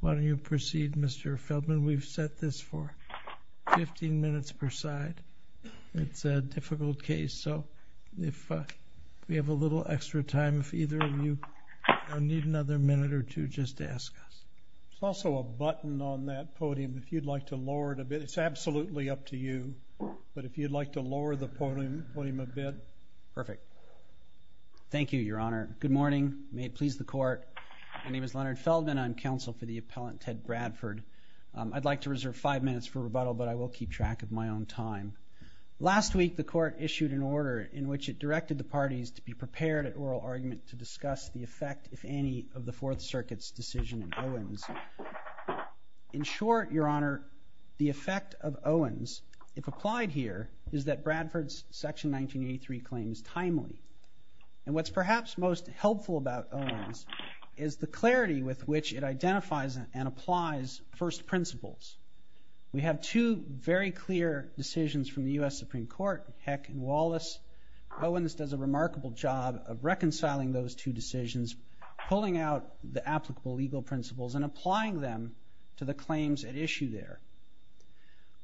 Why don't you proceed Mr. Feldman? We've set this for 15 minutes per side It's a difficult case. So if we have a little extra time if either of you Need another minute or two just ask us. It's also a button on that podium if you'd like to lower it a bit It's absolutely up to you. But if you'd like to lower the podium put him a bit perfect Thank you, Your Honor. Good morning. May it please the court. My name is Leonard Feldman. I'm counsel for the appellant Ted Bradford I'd like to reserve five minutes for rebuttal, but I will keep track of my own time Last week the court issued an order in which it directed the parties to be prepared at oral argument to discuss the effect if any of the Fourth Circuit's decision in Owens In short, Your Honor the effect of Owens if applied here Is that Bradford's section 1983 claims timely and what's perhaps most helpful about Owens is The clarity with which it identifies and applies first principles We have two very clear decisions from the US Supreme Court Heck and Wallace Owens does a remarkable job of reconciling those two decisions Pulling out the applicable legal principles and applying them to the claims at issue there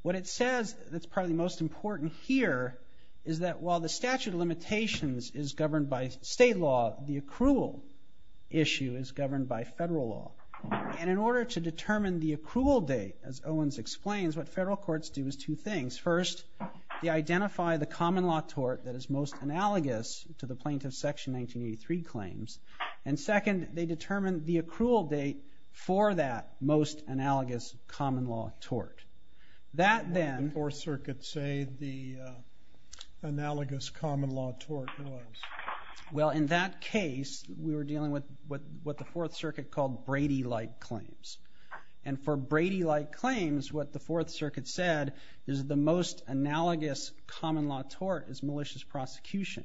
What it says that's probably most important here is that while the statute of limitations is governed by state law the accrual Issue is governed by federal law And in order to determine the accrual date as Owens explains what federal courts do is two things first They identify the common law tort that is most analogous to the plaintiff section 1983 claims and second They determine the accrual date for that most analogous common law tort that then or circuit say the analogous common law tort well in that case we were dealing with what what the Fourth Circuit called Brady like claims and For Brady like claims what the Fourth Circuit said is the most analogous common law tort is malicious prosecution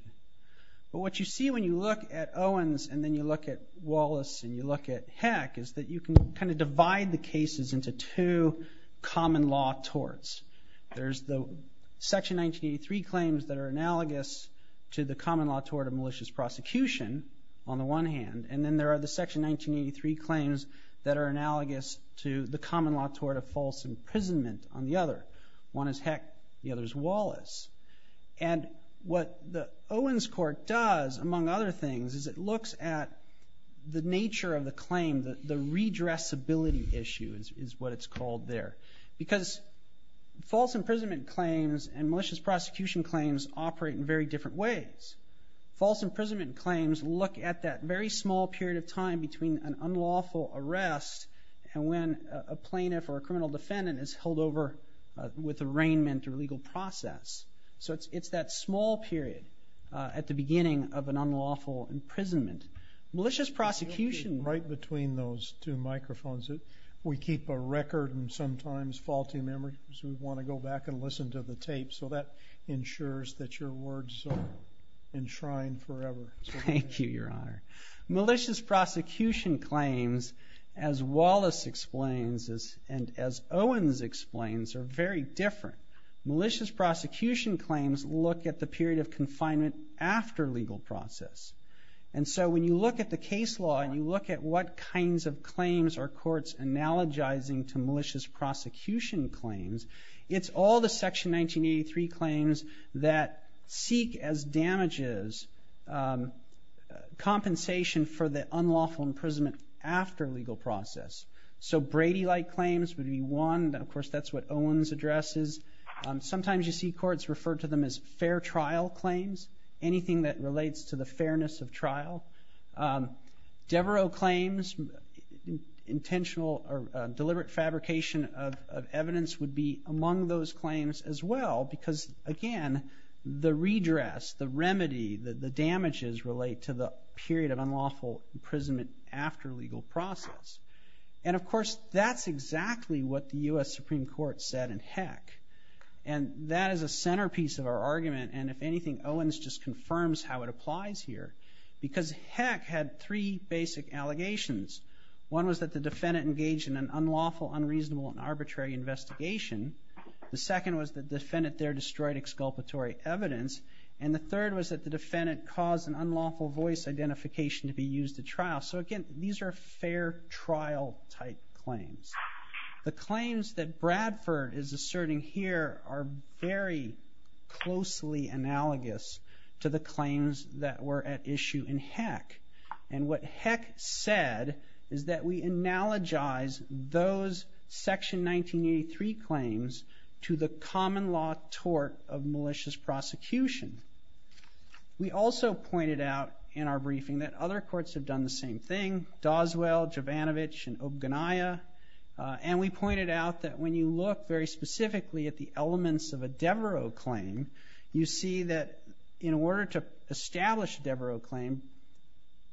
but what you see when you look at Owens and then you look at Wallace and you look at heck is that you can kind of divide the cases into two common law torts there's the section 1983 claims that are analogous to the common law tort of malicious prosecution on the one hand and then there are the section 1983 Claims that are analogous to the common law tort of false imprisonment on the other one is heck. The other is Wallace and What the Owens court does among other things is it looks at? The nature of the claim that the redress ability issue is what it's called there because false imprisonment claims and malicious prosecution claims operate in very different ways false imprisonment claims look at that very small period of time between an unlawful arrest and when a Plaintiff or a criminal defendant is held over With arraignment or legal process. So it's it's that small period at the beginning of an unlawful Imprisonment malicious prosecution right between those two microphones it we keep a record and sometimes Faulty memory, so we want to go back and listen to the tape. So that ensures that your words Enshrined forever. Thank you your honor malicious prosecution claims as Wallace explains as and as Owens explains are very different malicious prosecution claims look at the period of confinement after legal process And so when you look at the case law and you look at what kinds of claims are courts analogizing to malicious prosecution claims It's all the section 1983 claims that seek as damages Compensation for the unlawful imprisonment after legal process so Brady like claims would be one Of course, that's what Owens addresses Sometimes you see courts refer to them as fair trial claims anything that relates to the fairness of trial Devereux claims Intentional or deliberate fabrication of evidence would be among those claims as well because again The redress the remedy that the damages relate to the period of unlawful Imprisonment after legal process and of course, that's exactly what the US Supreme Court said and heck That is a centerpiece of our argument And if anything Owens just confirms how it applies here because heck had three basic allegations One was that the defendant engaged in an unlawful unreasonable and arbitrary investigation The second was the defendant there destroyed exculpatory evidence and the third was that the defendant caused an unlawful voice Identification to be used at trial. So again, these are fair trial type claims The claims that Bradford is asserting here are very closely Analogous to the claims that were at issue in heck and what heck said is that we? analogize those section 1983 claims to the common law tort of malicious prosecution We also pointed out in our briefing that other courts have done the same thing Doswell Jovanovich and Obanaya And we pointed out that when you look very specifically at the elements of a Devereux claim You see that in order to establish Devereux claim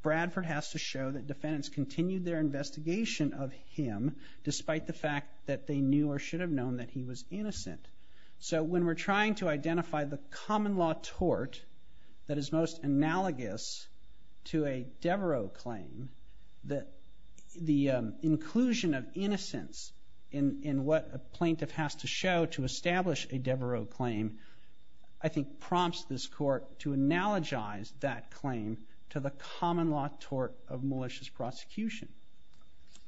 Bradford has to show that defendants continued their investigation of him Despite the fact that they knew or should have known that he was innocent So when we're trying to identify the common law tort that is most analogous to a Devereux claim that the Inclusion of innocence in in what a plaintiff has to show to establish a Devereux claim I think prompts this court to analogize that claim to the common law tort of malicious prosecution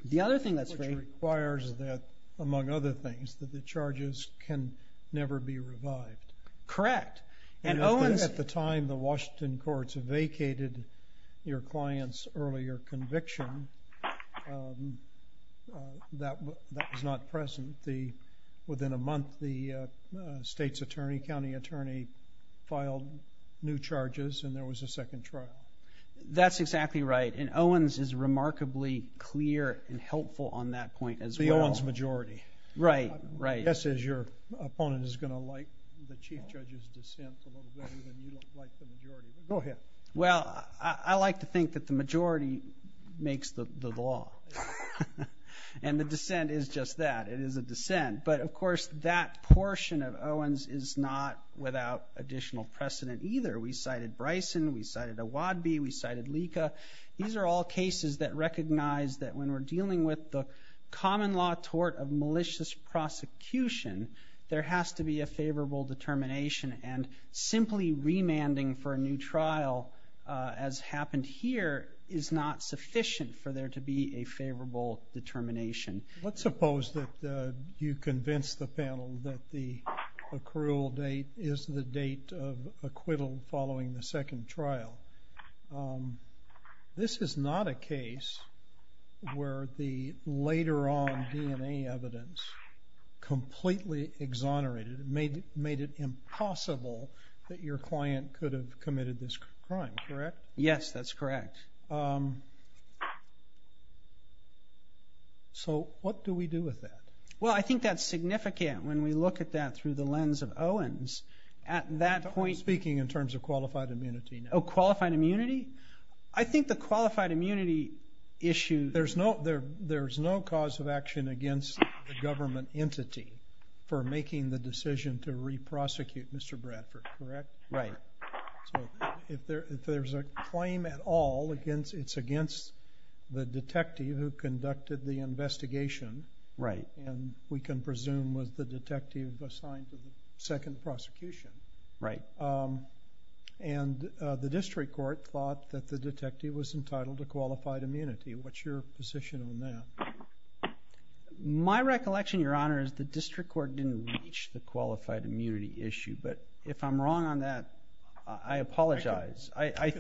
The other thing that requires that among other things that the charges can never be revived Correct and Owens at the time the Washington courts vacated your clients earlier conviction That was not present the within a month the state's attorney county attorney Filed new charges and there was a second trial That's exactly right and Owens is remarkably clear and helpful on that point as the Owens majority Right right this is your opponent is going to like the chief judge's dissent Oh, yeah, well, I like to think that the majority makes the law And the dissent is just that it is a dissent But of course that portion of Owens is not without additional precedent either we cited Bryson We cited a Wadby we cited Lika These are all cases that recognize that when we're dealing with the common law tort of malicious prosecution There has to be a favorable determination and simply remanding for a new trial As happened here is not sufficient for there to be a favorable determination, let's suppose that you convince the panel that the Accrual date is the date of acquittal following the second trial This is not a case Where the later on DNA evidence? Completely exonerated made it made it impossible that your client could have committed this crime correct. Yes That's correct So what do we do with that well I think that's significant when we look at that through the lens of Owens at that point speaking in terms of qualified immunity Qualified immunity, I think the qualified immunity Issues, there's no there. There's no cause of action against the government entity for making the decision to Reprosecute. Mr. Bradford, correct, right? If there's a claim at all against it's against the detective who conducted the investigation Right, and we can presume was the detective assigned to the second prosecution, right? and The district court thought that the detective was entitled to qualified immunity. What's your position on that? My recollection your honor is the district court didn't reach the qualified immunity issue, but if I'm wrong on that, I Apologize. I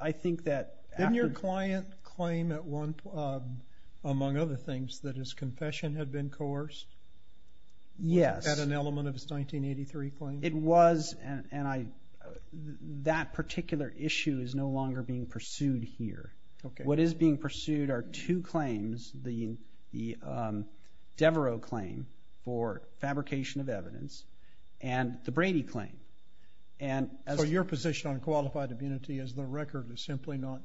I think that in your client claim at one Among other things that his confession had been coerced Yes at an element of his 1983 claim it was and I That particular issue is no longer being pursued here. Okay, what is being pursued are two claims the the Devereux claim for fabrication of evidence and the Brady claim and As for your position on qualified immunity as the record is simply not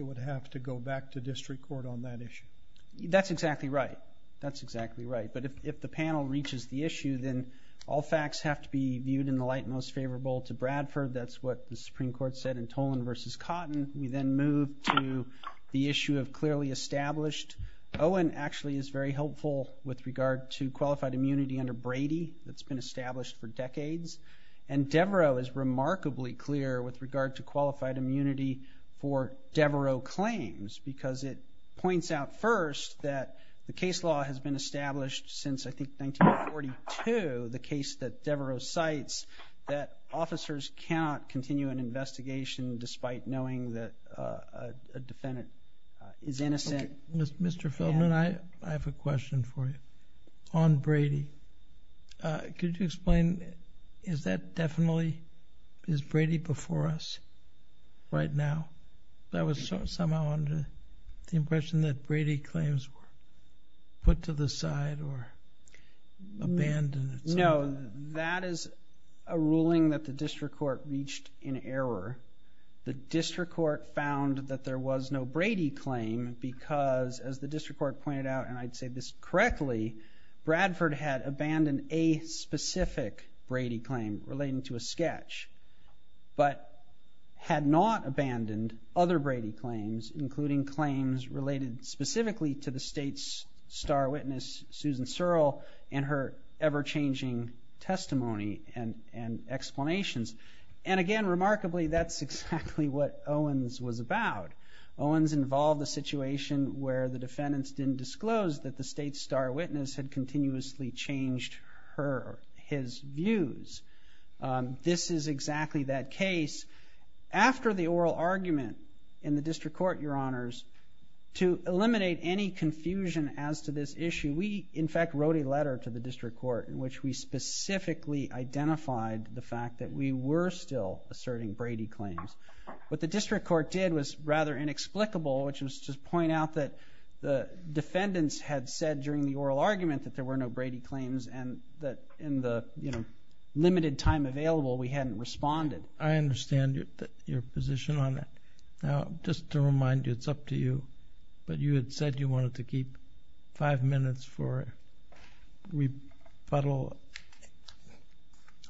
Would have to go back to district court on that issue. That's exactly right. That's exactly right But if the panel reaches the issue then all facts have to be viewed in the light most favorable to Bradford That's what the Supreme Court said in Tolan versus cotton. We then move to the issue of clearly established Owen actually is very helpful with regard to qualified immunity under Brady that's been established for decades and Devereux claims because it points out first that the case law has been established since I think 1942 the case that Devereux cites that officers cannot continue an investigation despite knowing that a Defendant is innocent. Mr. Feldman. I I have a question for you on Brady Could you explain is that definitely is Brady before us? Right now that was somehow under the impression that Brady claims were put to the side or Abandoned. No, that is a ruling that the district court reached in error The district court found that there was no Brady claim because as the district court pointed out and I'd say this correctly Bradford had abandoned a specific Brady claim relating to a sketch But Had not abandoned other Brady claims including claims related specifically to the state's star witness Susan Searle and her ever-changing testimony and and Explanations and again remarkably that's exactly what Owens was about Owens involved the situation where the defendants didn't disclose that the state star witness had continuously changed her his views This is exactly that case after the oral argument in the district court your honors To eliminate any confusion as to this issue. We in fact wrote a letter to the district court in which we Specifically identified the fact that we were still asserting Brady claims but the district court did was rather inexplicable, which was to point out that the Defendants had said during the oral argument that there were no Brady claims and that in the you know Limited time available. We hadn't responded. I understand your position on it now just to remind you it's up to you But you had said you wanted to keep five minutes for it we puddle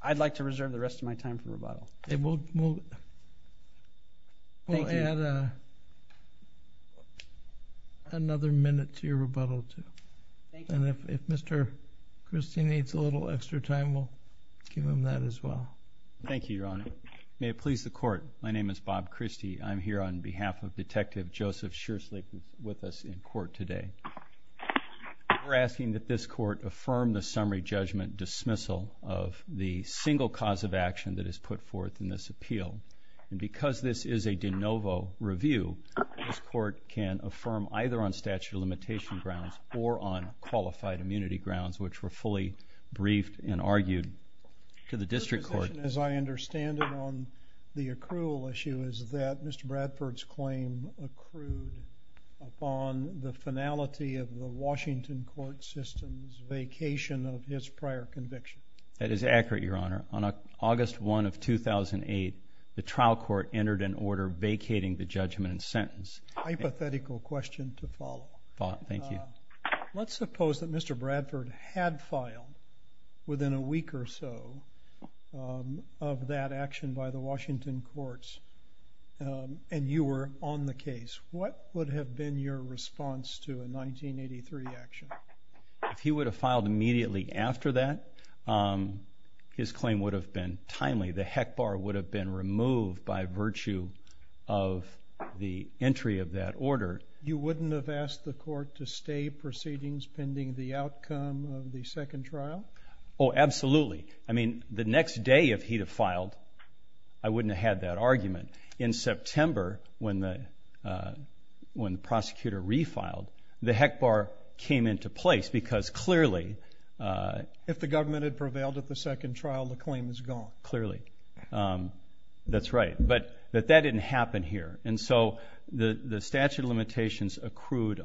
I'd like to reserve the rest of my time for rebuttal. It won't move Well, yeah Another minute to your rebuttal to Mr. Christie needs a little extra time. We'll give him that as well. Thank you. Your honor. May it please the court My name is Bob Christie. I'm here on behalf of detective Joseph. Sure sleep with us in court today We're asking that this court affirm the summary judgment dismissal of the single cause of action that is put forth in this appeal And because this is a de novo review This court can affirm either on statute of limitation grounds or on qualified immunity grounds Which were fully briefed and argued to the district court as I understand it on the accrual issue Is that mr. Bradford's claim? accrued Upon the finality of the Washington court system's vacation of his prior conviction That is accurate your honor on August 1 of 2008 The trial court entered an order vacating the judgment and sentence Hypothetical question to follow thought. Thank you. Let's suppose that mr. Bradford had filed within a week or so Of that action by the Washington courts And you were on the case. What would have been your response to a 1983 action? If he would have filed immediately after that His claim would have been timely the heck bar would have been removed by virtue of The entry of that order you wouldn't have asked the court to stay proceedings pending the outcome of the second trial Oh, absolutely. I mean the next day if he'd have filed I wouldn't have had that argument in September when the when the prosecutor refiled the heck bar came into place because clearly If the government had prevailed at the second trial the claim is gone clearly That's right, but that that didn't happen here. And so the the statute of limitations accrued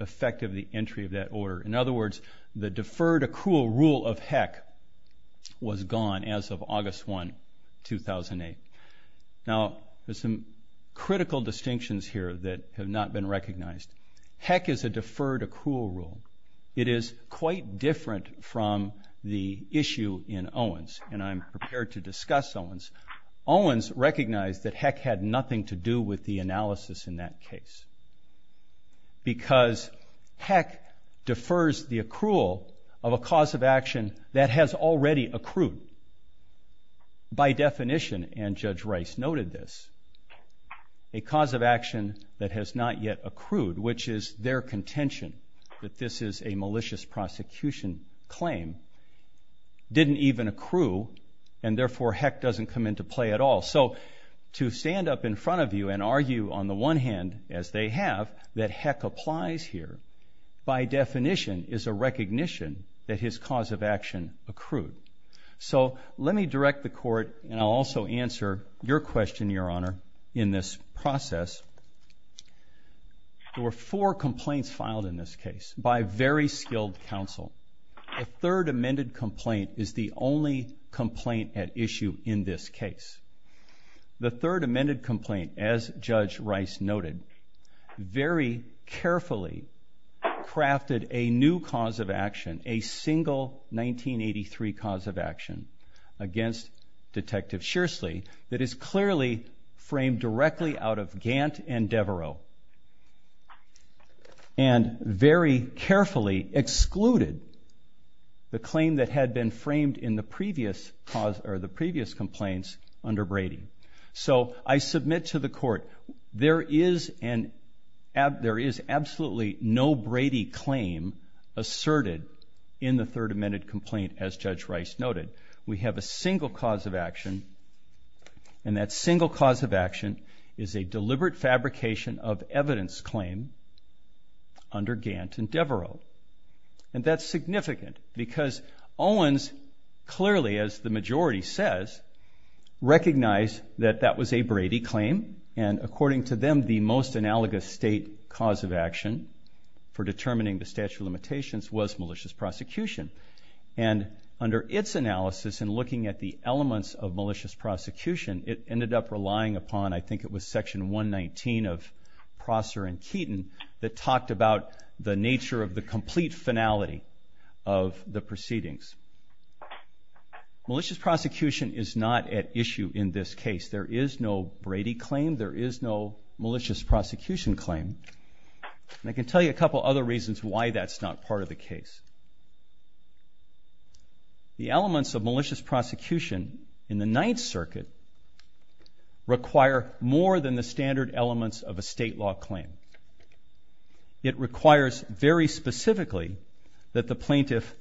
Effective the entry of that order in other words the deferred accrual rule of heck Was gone as of August 1 2008 now there's some critical distinctions here that have not been recognized Heck is a deferred accrual rule It is quite different from the issue in Owens and I'm prepared to discuss Owens Owens recognized that heck had nothing to do with the analysis in that case Because heck defers the accrual of a cause of action that has already accrued by definition and Judge Rice noted this a Which is their contention that this is a malicious prosecution claim Didn't even accrue and therefore heck doesn't come into play at all So to stand up in front of you and argue on the one hand as they have that heck applies here By definition is a recognition that his cause of action accrued So let me direct the court and I'll also answer your question your honor in this process There were four complaints filed in this case by very skilled counsel a third amended complaint is the only complaint at issue in this case The third amended complaint as Judge Rice noted very carefully crafted a new cause of action a single 1983 cause of action Against detective Shirsley that is clearly framed directly out of Gant and Devereaux and Very carefully excluded The claim that had been framed in the previous cause or the previous complaints under Brady So I submit to the court there is an app. There is absolutely no Brady claim Asserted in the third amended complaint as Judge Rice noted. We have a single cause of action and That single cause of action is a deliberate fabrication of evidence claim Under Gant and Devereaux and that's significant because Owens clearly as the majority says Recognize that that was a Brady claim and according to them the most analogous state cause of action For determining the statute of limitations was malicious prosecution and Under its analysis and looking at the elements of malicious prosecution. It ended up relying upon. I think it was section 119 of Prosser and Keaton that talked about the nature of the complete finality of the proceedings Malicious prosecution is not at issue in this case. There is no Brady claim. There is no malicious prosecution claim And I can tell you a couple other reasons why that's not part of the case The elements of malicious prosecution in the Ninth Circuit Require more than the standard elements of a state law claim It requires very specifically that the plaintiff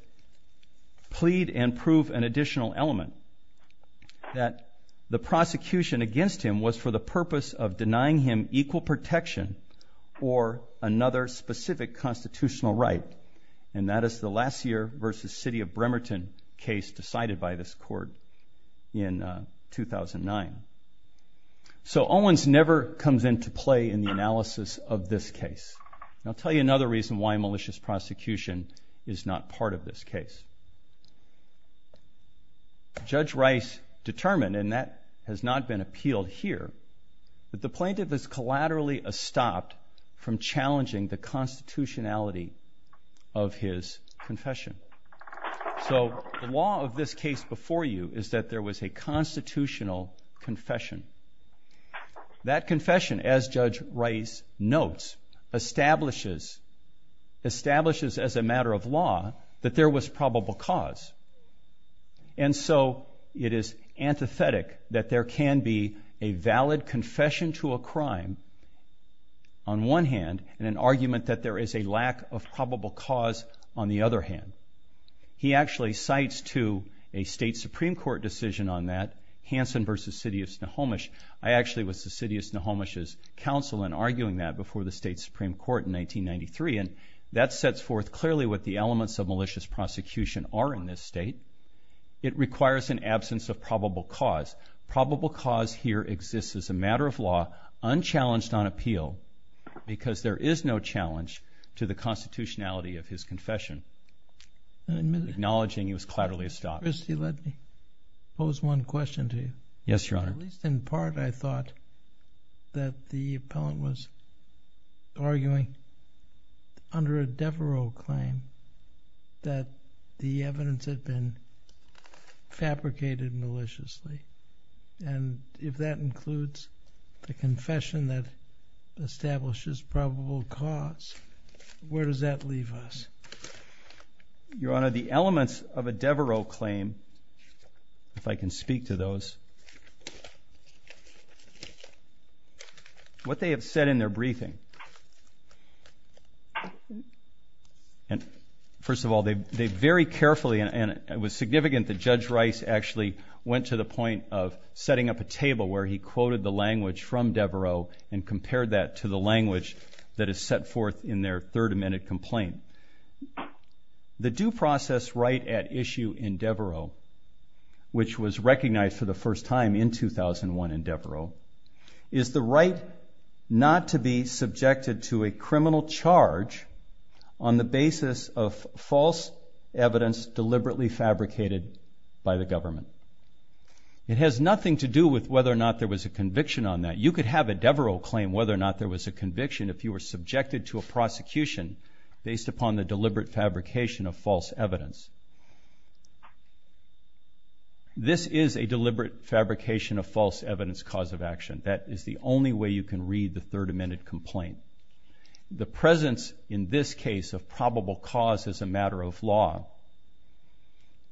plead and prove an additional element That the prosecution against him was for the purpose of denying him equal protection or Another specific constitutional right and that is the last year versus City of Bremerton case decided by this court in 2009 So Owens never comes into play in the analysis of this case I'll tell you another reason why a malicious prosecution is not part of this case Judge Rice Determined and that has not been appealed here that the plaintiff is collaterally a stopped from challenging the constitutionality of his confession so the law of this case before you is that there was a constitutional confession that confession as Judge Rice notes establishes establishes as a matter of law that there was probable cause and So it is antithetic that there can be a valid confession to a crime on One hand and an argument that there is a lack of probable cause on the other hand He actually cites to a state Supreme Court decision on that Hansen versus City of Snohomish I actually was the city of Snohomish as counsel and arguing that before the state Supreme Court in 1993 and that sets forth clearly what the elements of malicious prosecution are in this state It requires an absence of probable cause probable cause here exists as a matter of law unchallenged on appeal Because there is no challenge to the constitutionality of his confession Acknowledging he was clatterly a stop is he let me pose one question to you. Yes, your honor least in part. I thought that the appellant was arguing under a Devereux claim That the evidence had been Fabricated maliciously and if that includes the confession that establishes probable cause Where does that leave us? Your honor the elements of a Devereux claim if I can speak to those What they have said in their briefing And First of all, they they very carefully and it was significant that judge Rice actually went to the point of setting up a table where He quoted the language from Devereux and compared that to the language that is set forth in their third amendment complaint The due process right at issue in Devereux Which was recognized for the first time in 2001 in Devereux is the right? Not to be subjected to a criminal charge on the basis of false evidence deliberately fabricated by the government It has nothing to do with whether or not there was a conviction on that you could have a Devereux claim whether or not there Was a conviction if you were subjected to a prosecution based upon the deliberate fabrication of false evidence This Is a deliberate fabrication of false evidence cause of action that is the only way you can read the third amendment complaint The presence in this case of probable cause as a matter of law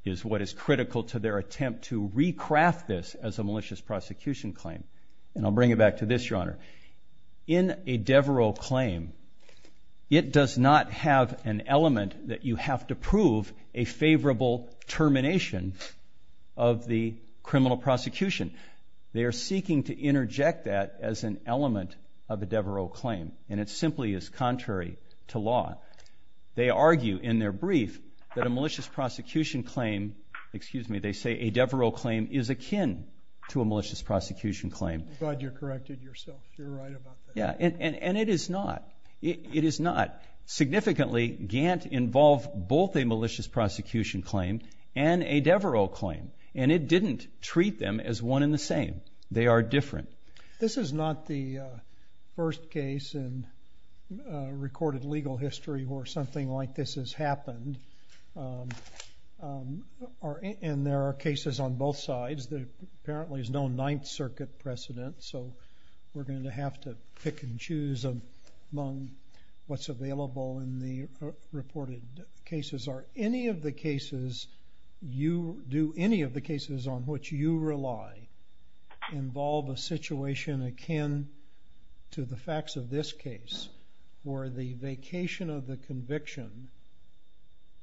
Is what is critical to their attempt to recraft this as a malicious prosecution claim and I'll bring it back to this your honor in a Devereux claim It does not have an element that you have to prove a favorable termination of the criminal prosecution They are seeking to interject that as an element of a Devereux claim, and it simply is contrary to law They argue in their brief that a malicious prosecution claim Excuse me. They say a Devereux claim is akin to a malicious prosecution claim You're corrected yourself Yeah, and and it is not it is not Significantly Gantt involve both a malicious prosecution claim and a Devereux claim And it didn't treat them as one in the same. They are different. This is not the first case and Recorded legal history or something like this has happened Or And there are cases on both sides that apparently is no Ninth Circuit precedent So we're going to have to pick and choose of among what's available in the Reported cases are any of the cases You do any of the cases on which you rely? Involve a situation akin To the facts of this case or the vacation of the conviction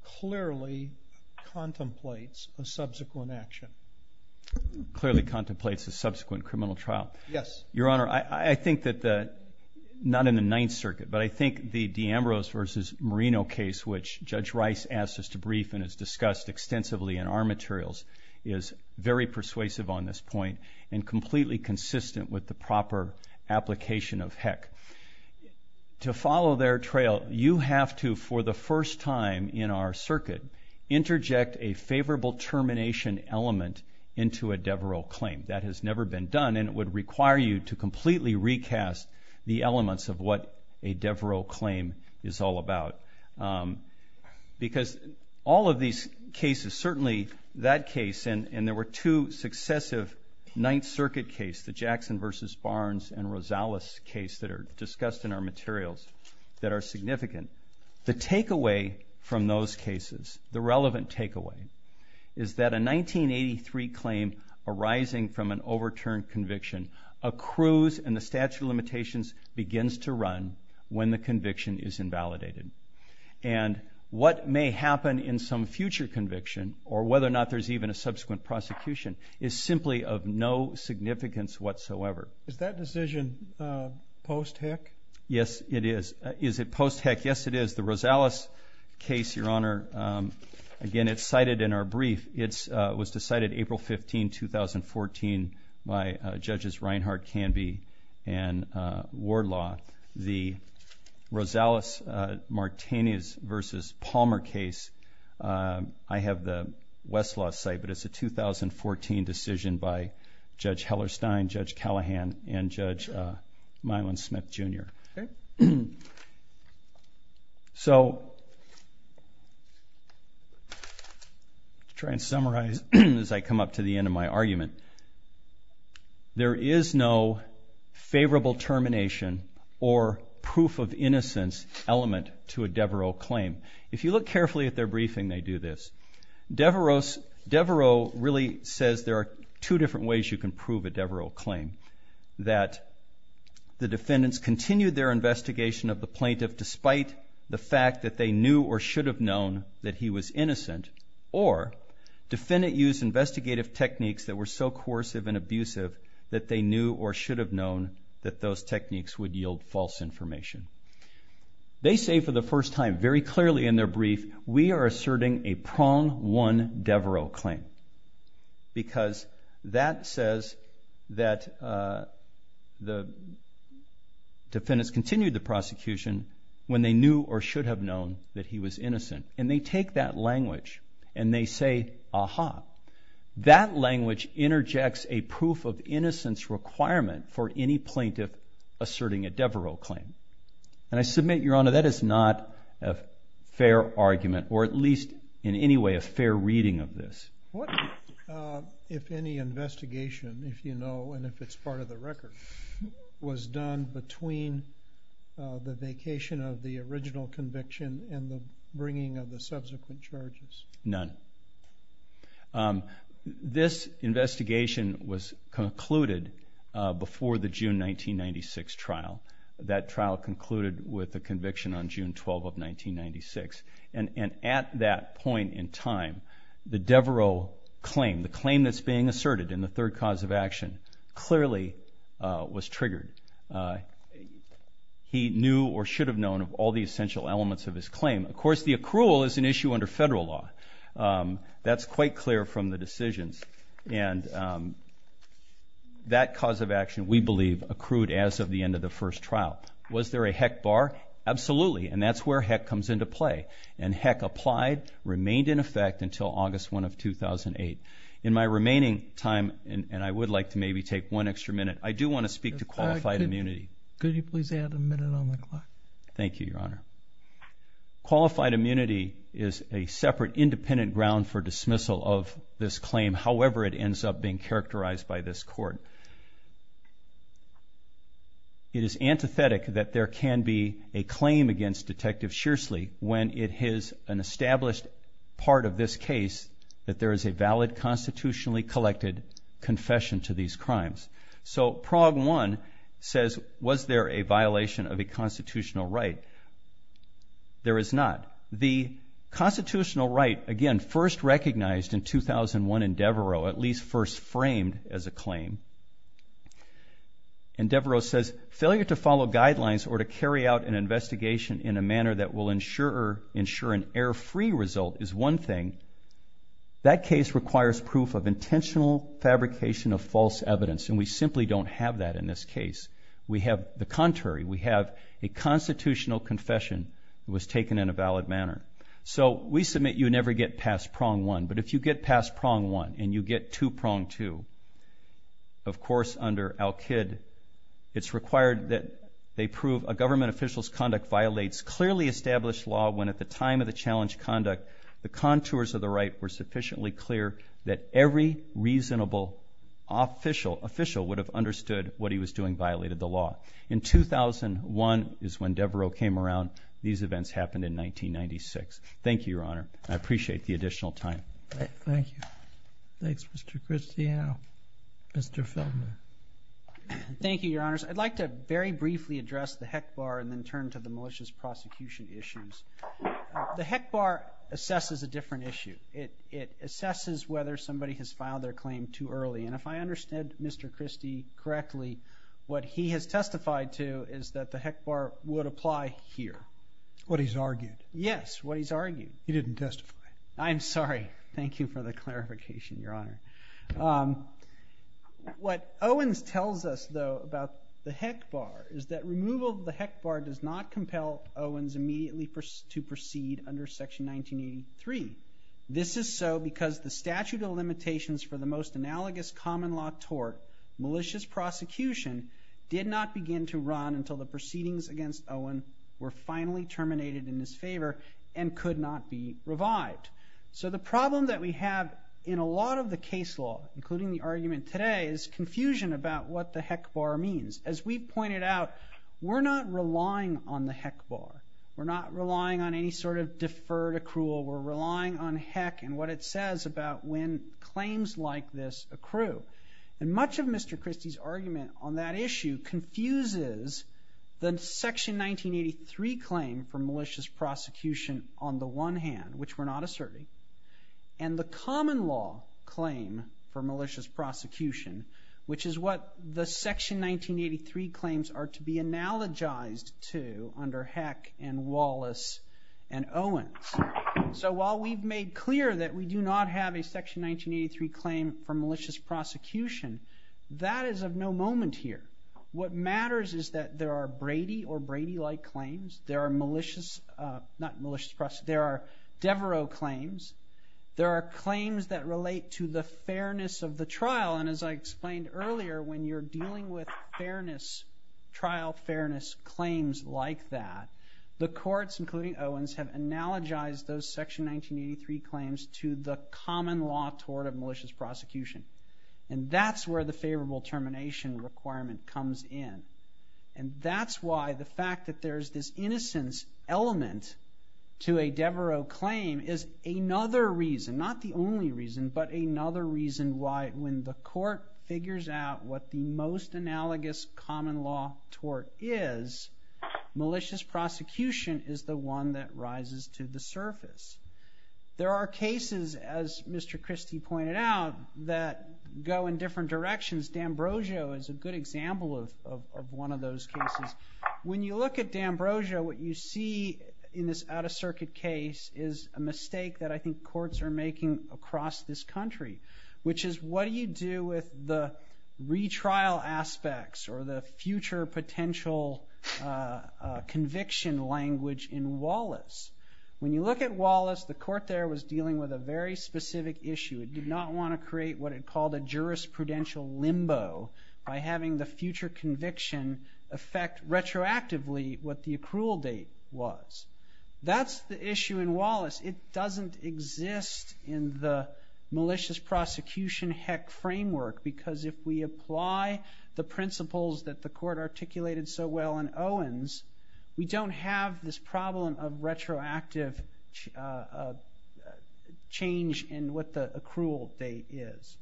Clearly contemplates a subsequent action Clearly contemplates a subsequent criminal trial. Yes, your honor. I think that the Not in the Ninth Circuit But I think the D Ambrose versus Marino case which judge Rice asked us to brief and has discussed Extensively in our materials is very persuasive on this point and completely consistent with the proper application of heck To follow their trail you have to for the first time in our circuit Interject a favorable termination element into a Devereux claim that has never been done And it would require you to completely recast the elements of what a Devereux claim is all about Because all of these cases certainly that case and and there were two successive Ninth Circuit case the Jackson versus Barnes and Rosales case that are discussed in our materials that are significant the takeaway from those cases the relevant takeaway is that a 1983 claim arising from an overturned conviction accrues and the statute of limitations begins to run when the conviction is invalidated and What may happen in some future conviction or whether or not there's even a subsequent prosecution is simply of no Significance whatsoever. Is that decision? Post heck. Yes, it is. Is it post heck? Yes, it is the Rosales case your honor Again, it's cited in our brief. It's was decided April 15 2014 my judges Reinhardt can be and Wardlaw the Rosales Martinez versus Palmer case I have the Westlaw site, but it's a 2014 decision by Judge Heller Stein Judge Callahan and Judge Milan Smith jr So Try and summarize as I come up to the end of my argument There is no favorable termination or Proof-of-innocence Element to a Devereaux claim if you look carefully at their briefing they do this Devereaux Devereaux really says there are two different ways. You can prove a Devereaux claim that the defendants continued their investigation of the plaintiff despite the fact that they knew or should have known that he was innocent or Defendant used investigative techniques that were so coercive and abusive that they knew or should have known that those techniques would yield false information They say for the first time very clearly in their brief. We are asserting a prong one Devereaux claim because that says that the Defendants continued the prosecution when they knew or should have known that he was innocent and they take that language and they say aha That language interjects a proof of innocence requirement for any plaintiff Asserting a Devereaux claim and I submit your honor. That is not a Fair argument or at least in any way a fair reading of this If any investigation if you know, and if it's part of the record was done between The vacation of the original conviction and the bringing of the subsequent charges none This investigation was concluded Before the June 1996 trial that trial concluded with the conviction on June 12 of 1996 and and at that point in time The Devereaux claim the claim that's being asserted in the third cause of action Clearly was triggered He knew or should have known of all the essential elements of his claim, of course the accrual is an issue under federal law that's quite clear from the decisions and That Cause of action we believe accrued as of the end of the first trial. Was there a heck bar? Absolutely, and that's where heck comes into play and heck applied remained in effect until August 1 of 2008 in my remaining time And I would like to maybe take one extra minute. I do want to speak to qualified immunity Could you please add a minute on the clock? Thank you, Your Honor Qualified immunity is a separate independent ground for dismissal of this claim. However, it ends up being characterized by this court It is antithetic that there can be a claim against detective Shearsley when it has an established part of this case that there is a valid constitutionally collected Confession to these crimes. So Prague one says was there a violation of a constitutional right? There is not the Constitutional right again first recognized in 2001 in Devereaux at least first framed as a claim and Devereaux says failure to follow guidelines or to carry out an investigation in a manner that will ensure Ensure an error free result is one thing That case requires proof of intentional fabrication of false evidence and we simply don't have that in this case We have the contrary we have a constitutional confession. It was taken in a valid manner So we submit you never get past prong one, but if you get past prong one and you get to prong two of course under Al kid It's required that they prove a government officials conduct violates clearly established law when at the time of the challenge conduct The contours of the right were sufficiently clear that every reasonable Official official would have understood what he was doing violated the law in 2001 is when Devereaux came around these events happened in 1996. Thank you, Your Honor. I appreciate the additional time Thank you. Thanks. Mr. Cristiano Mr. Feldman Thank you, Your Honors. I'd like to very briefly address the heck bar and then turn to the malicious prosecution issues The heck bar assesses a different issue it it assesses whether somebody has filed their claim too early and if I understood, mr Christie correctly what he has testified to is that the heck bar would apply here what he's argued Yes, what he's argued. He didn't testify. I'm sorry. Thank you for the clarification your honor What Owens tells us though about the heck bar is that removal the heck bar does not compel Owens immediately To proceed under section 1983 This is so because the statute of limitations for the most analogous common law tort malicious prosecution Did not begin to run until the proceedings against Owen were finally terminated in his favor and could not be revived So the problem that we have in a lot of the case law including the argument today is Confusion about what the heck bar means as we pointed out. We're not relying on the heck bar We're not relying on any sort of deferred accrual We're relying on heck and what it says about when claims like this accrue and much of mr Christie's argument on that issue confuses the section 1983 claim for malicious prosecution on the one hand, which we're not asserting and the common law claim for malicious prosecution Which is what the section 1983 claims are to be analogized to under heck and Wallace and Owens, so while we've made clear that we do not have a section 1983 claim for malicious prosecution That is of no moment here. What matters is that there are Brady or Brady like claims. There are malicious Not malicious trust. There are Devereux claims There are claims that relate to the fairness of the trial and as I explained earlier when you're dealing with fairness trial fairness claims like that the courts including Owens have analogized those section 1983 claims to the common law toward a malicious prosecution and that's where the favorable termination requirement comes in and That's why the fact that there's this innocence Element to a Devereux claim is another reason not the only reason but another reason why when the court figures out what the most analogous common law tort is Malicious prosecution is the one that rises to the surface There are cases as mr Christie pointed out that go in different directions D'ambrosio is a good example of one of those cases when you look at D'ambrosio what you see in this out-of-circuit case is a mistake that I think courts are making across this country, which is what do you do with the retrial aspects or the future potential Conviction language in Wallace when you look at Wallace the court there was dealing with a very specific issue It did not want to create what it called a jurisprudential limbo by having the future conviction affect retroactively what the accrual date was That's the issue in Wallace. It doesn't exist in the malicious prosecution heck framework because if we apply the principles that the court articulated so well in Owens We don't have this problem of retroactive A Change in what the accrual date is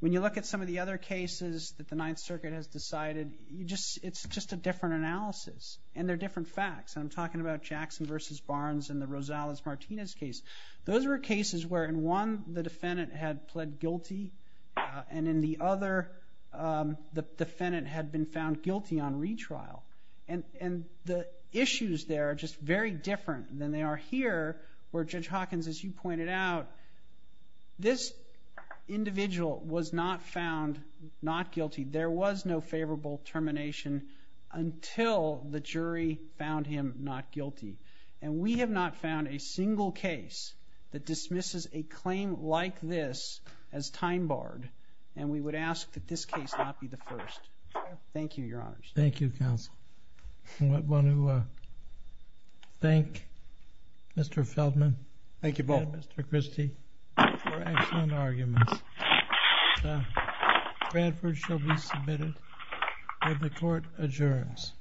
when you look at some of the other cases that the Ninth Circuit has decided You just it's just a different analysis and they're different facts I'm talking about Jackson versus Barnes and the Rosales Martinez case Those were cases where in one the defendant had pled guilty and in the other The defendant had been found guilty on retrial and and the issues They are just very different than they are here where judge Hawkins as you pointed out this Individual was not found not guilty. There was no favorable termination Until the jury found him not guilty and we have not found a single case That dismisses a claim like this as time-barred and we would ask that this case not be the first Thank you, your honor. Thank you counsel One who Thank mr. Feldman, thank you both. Mr. Christie The court adjourns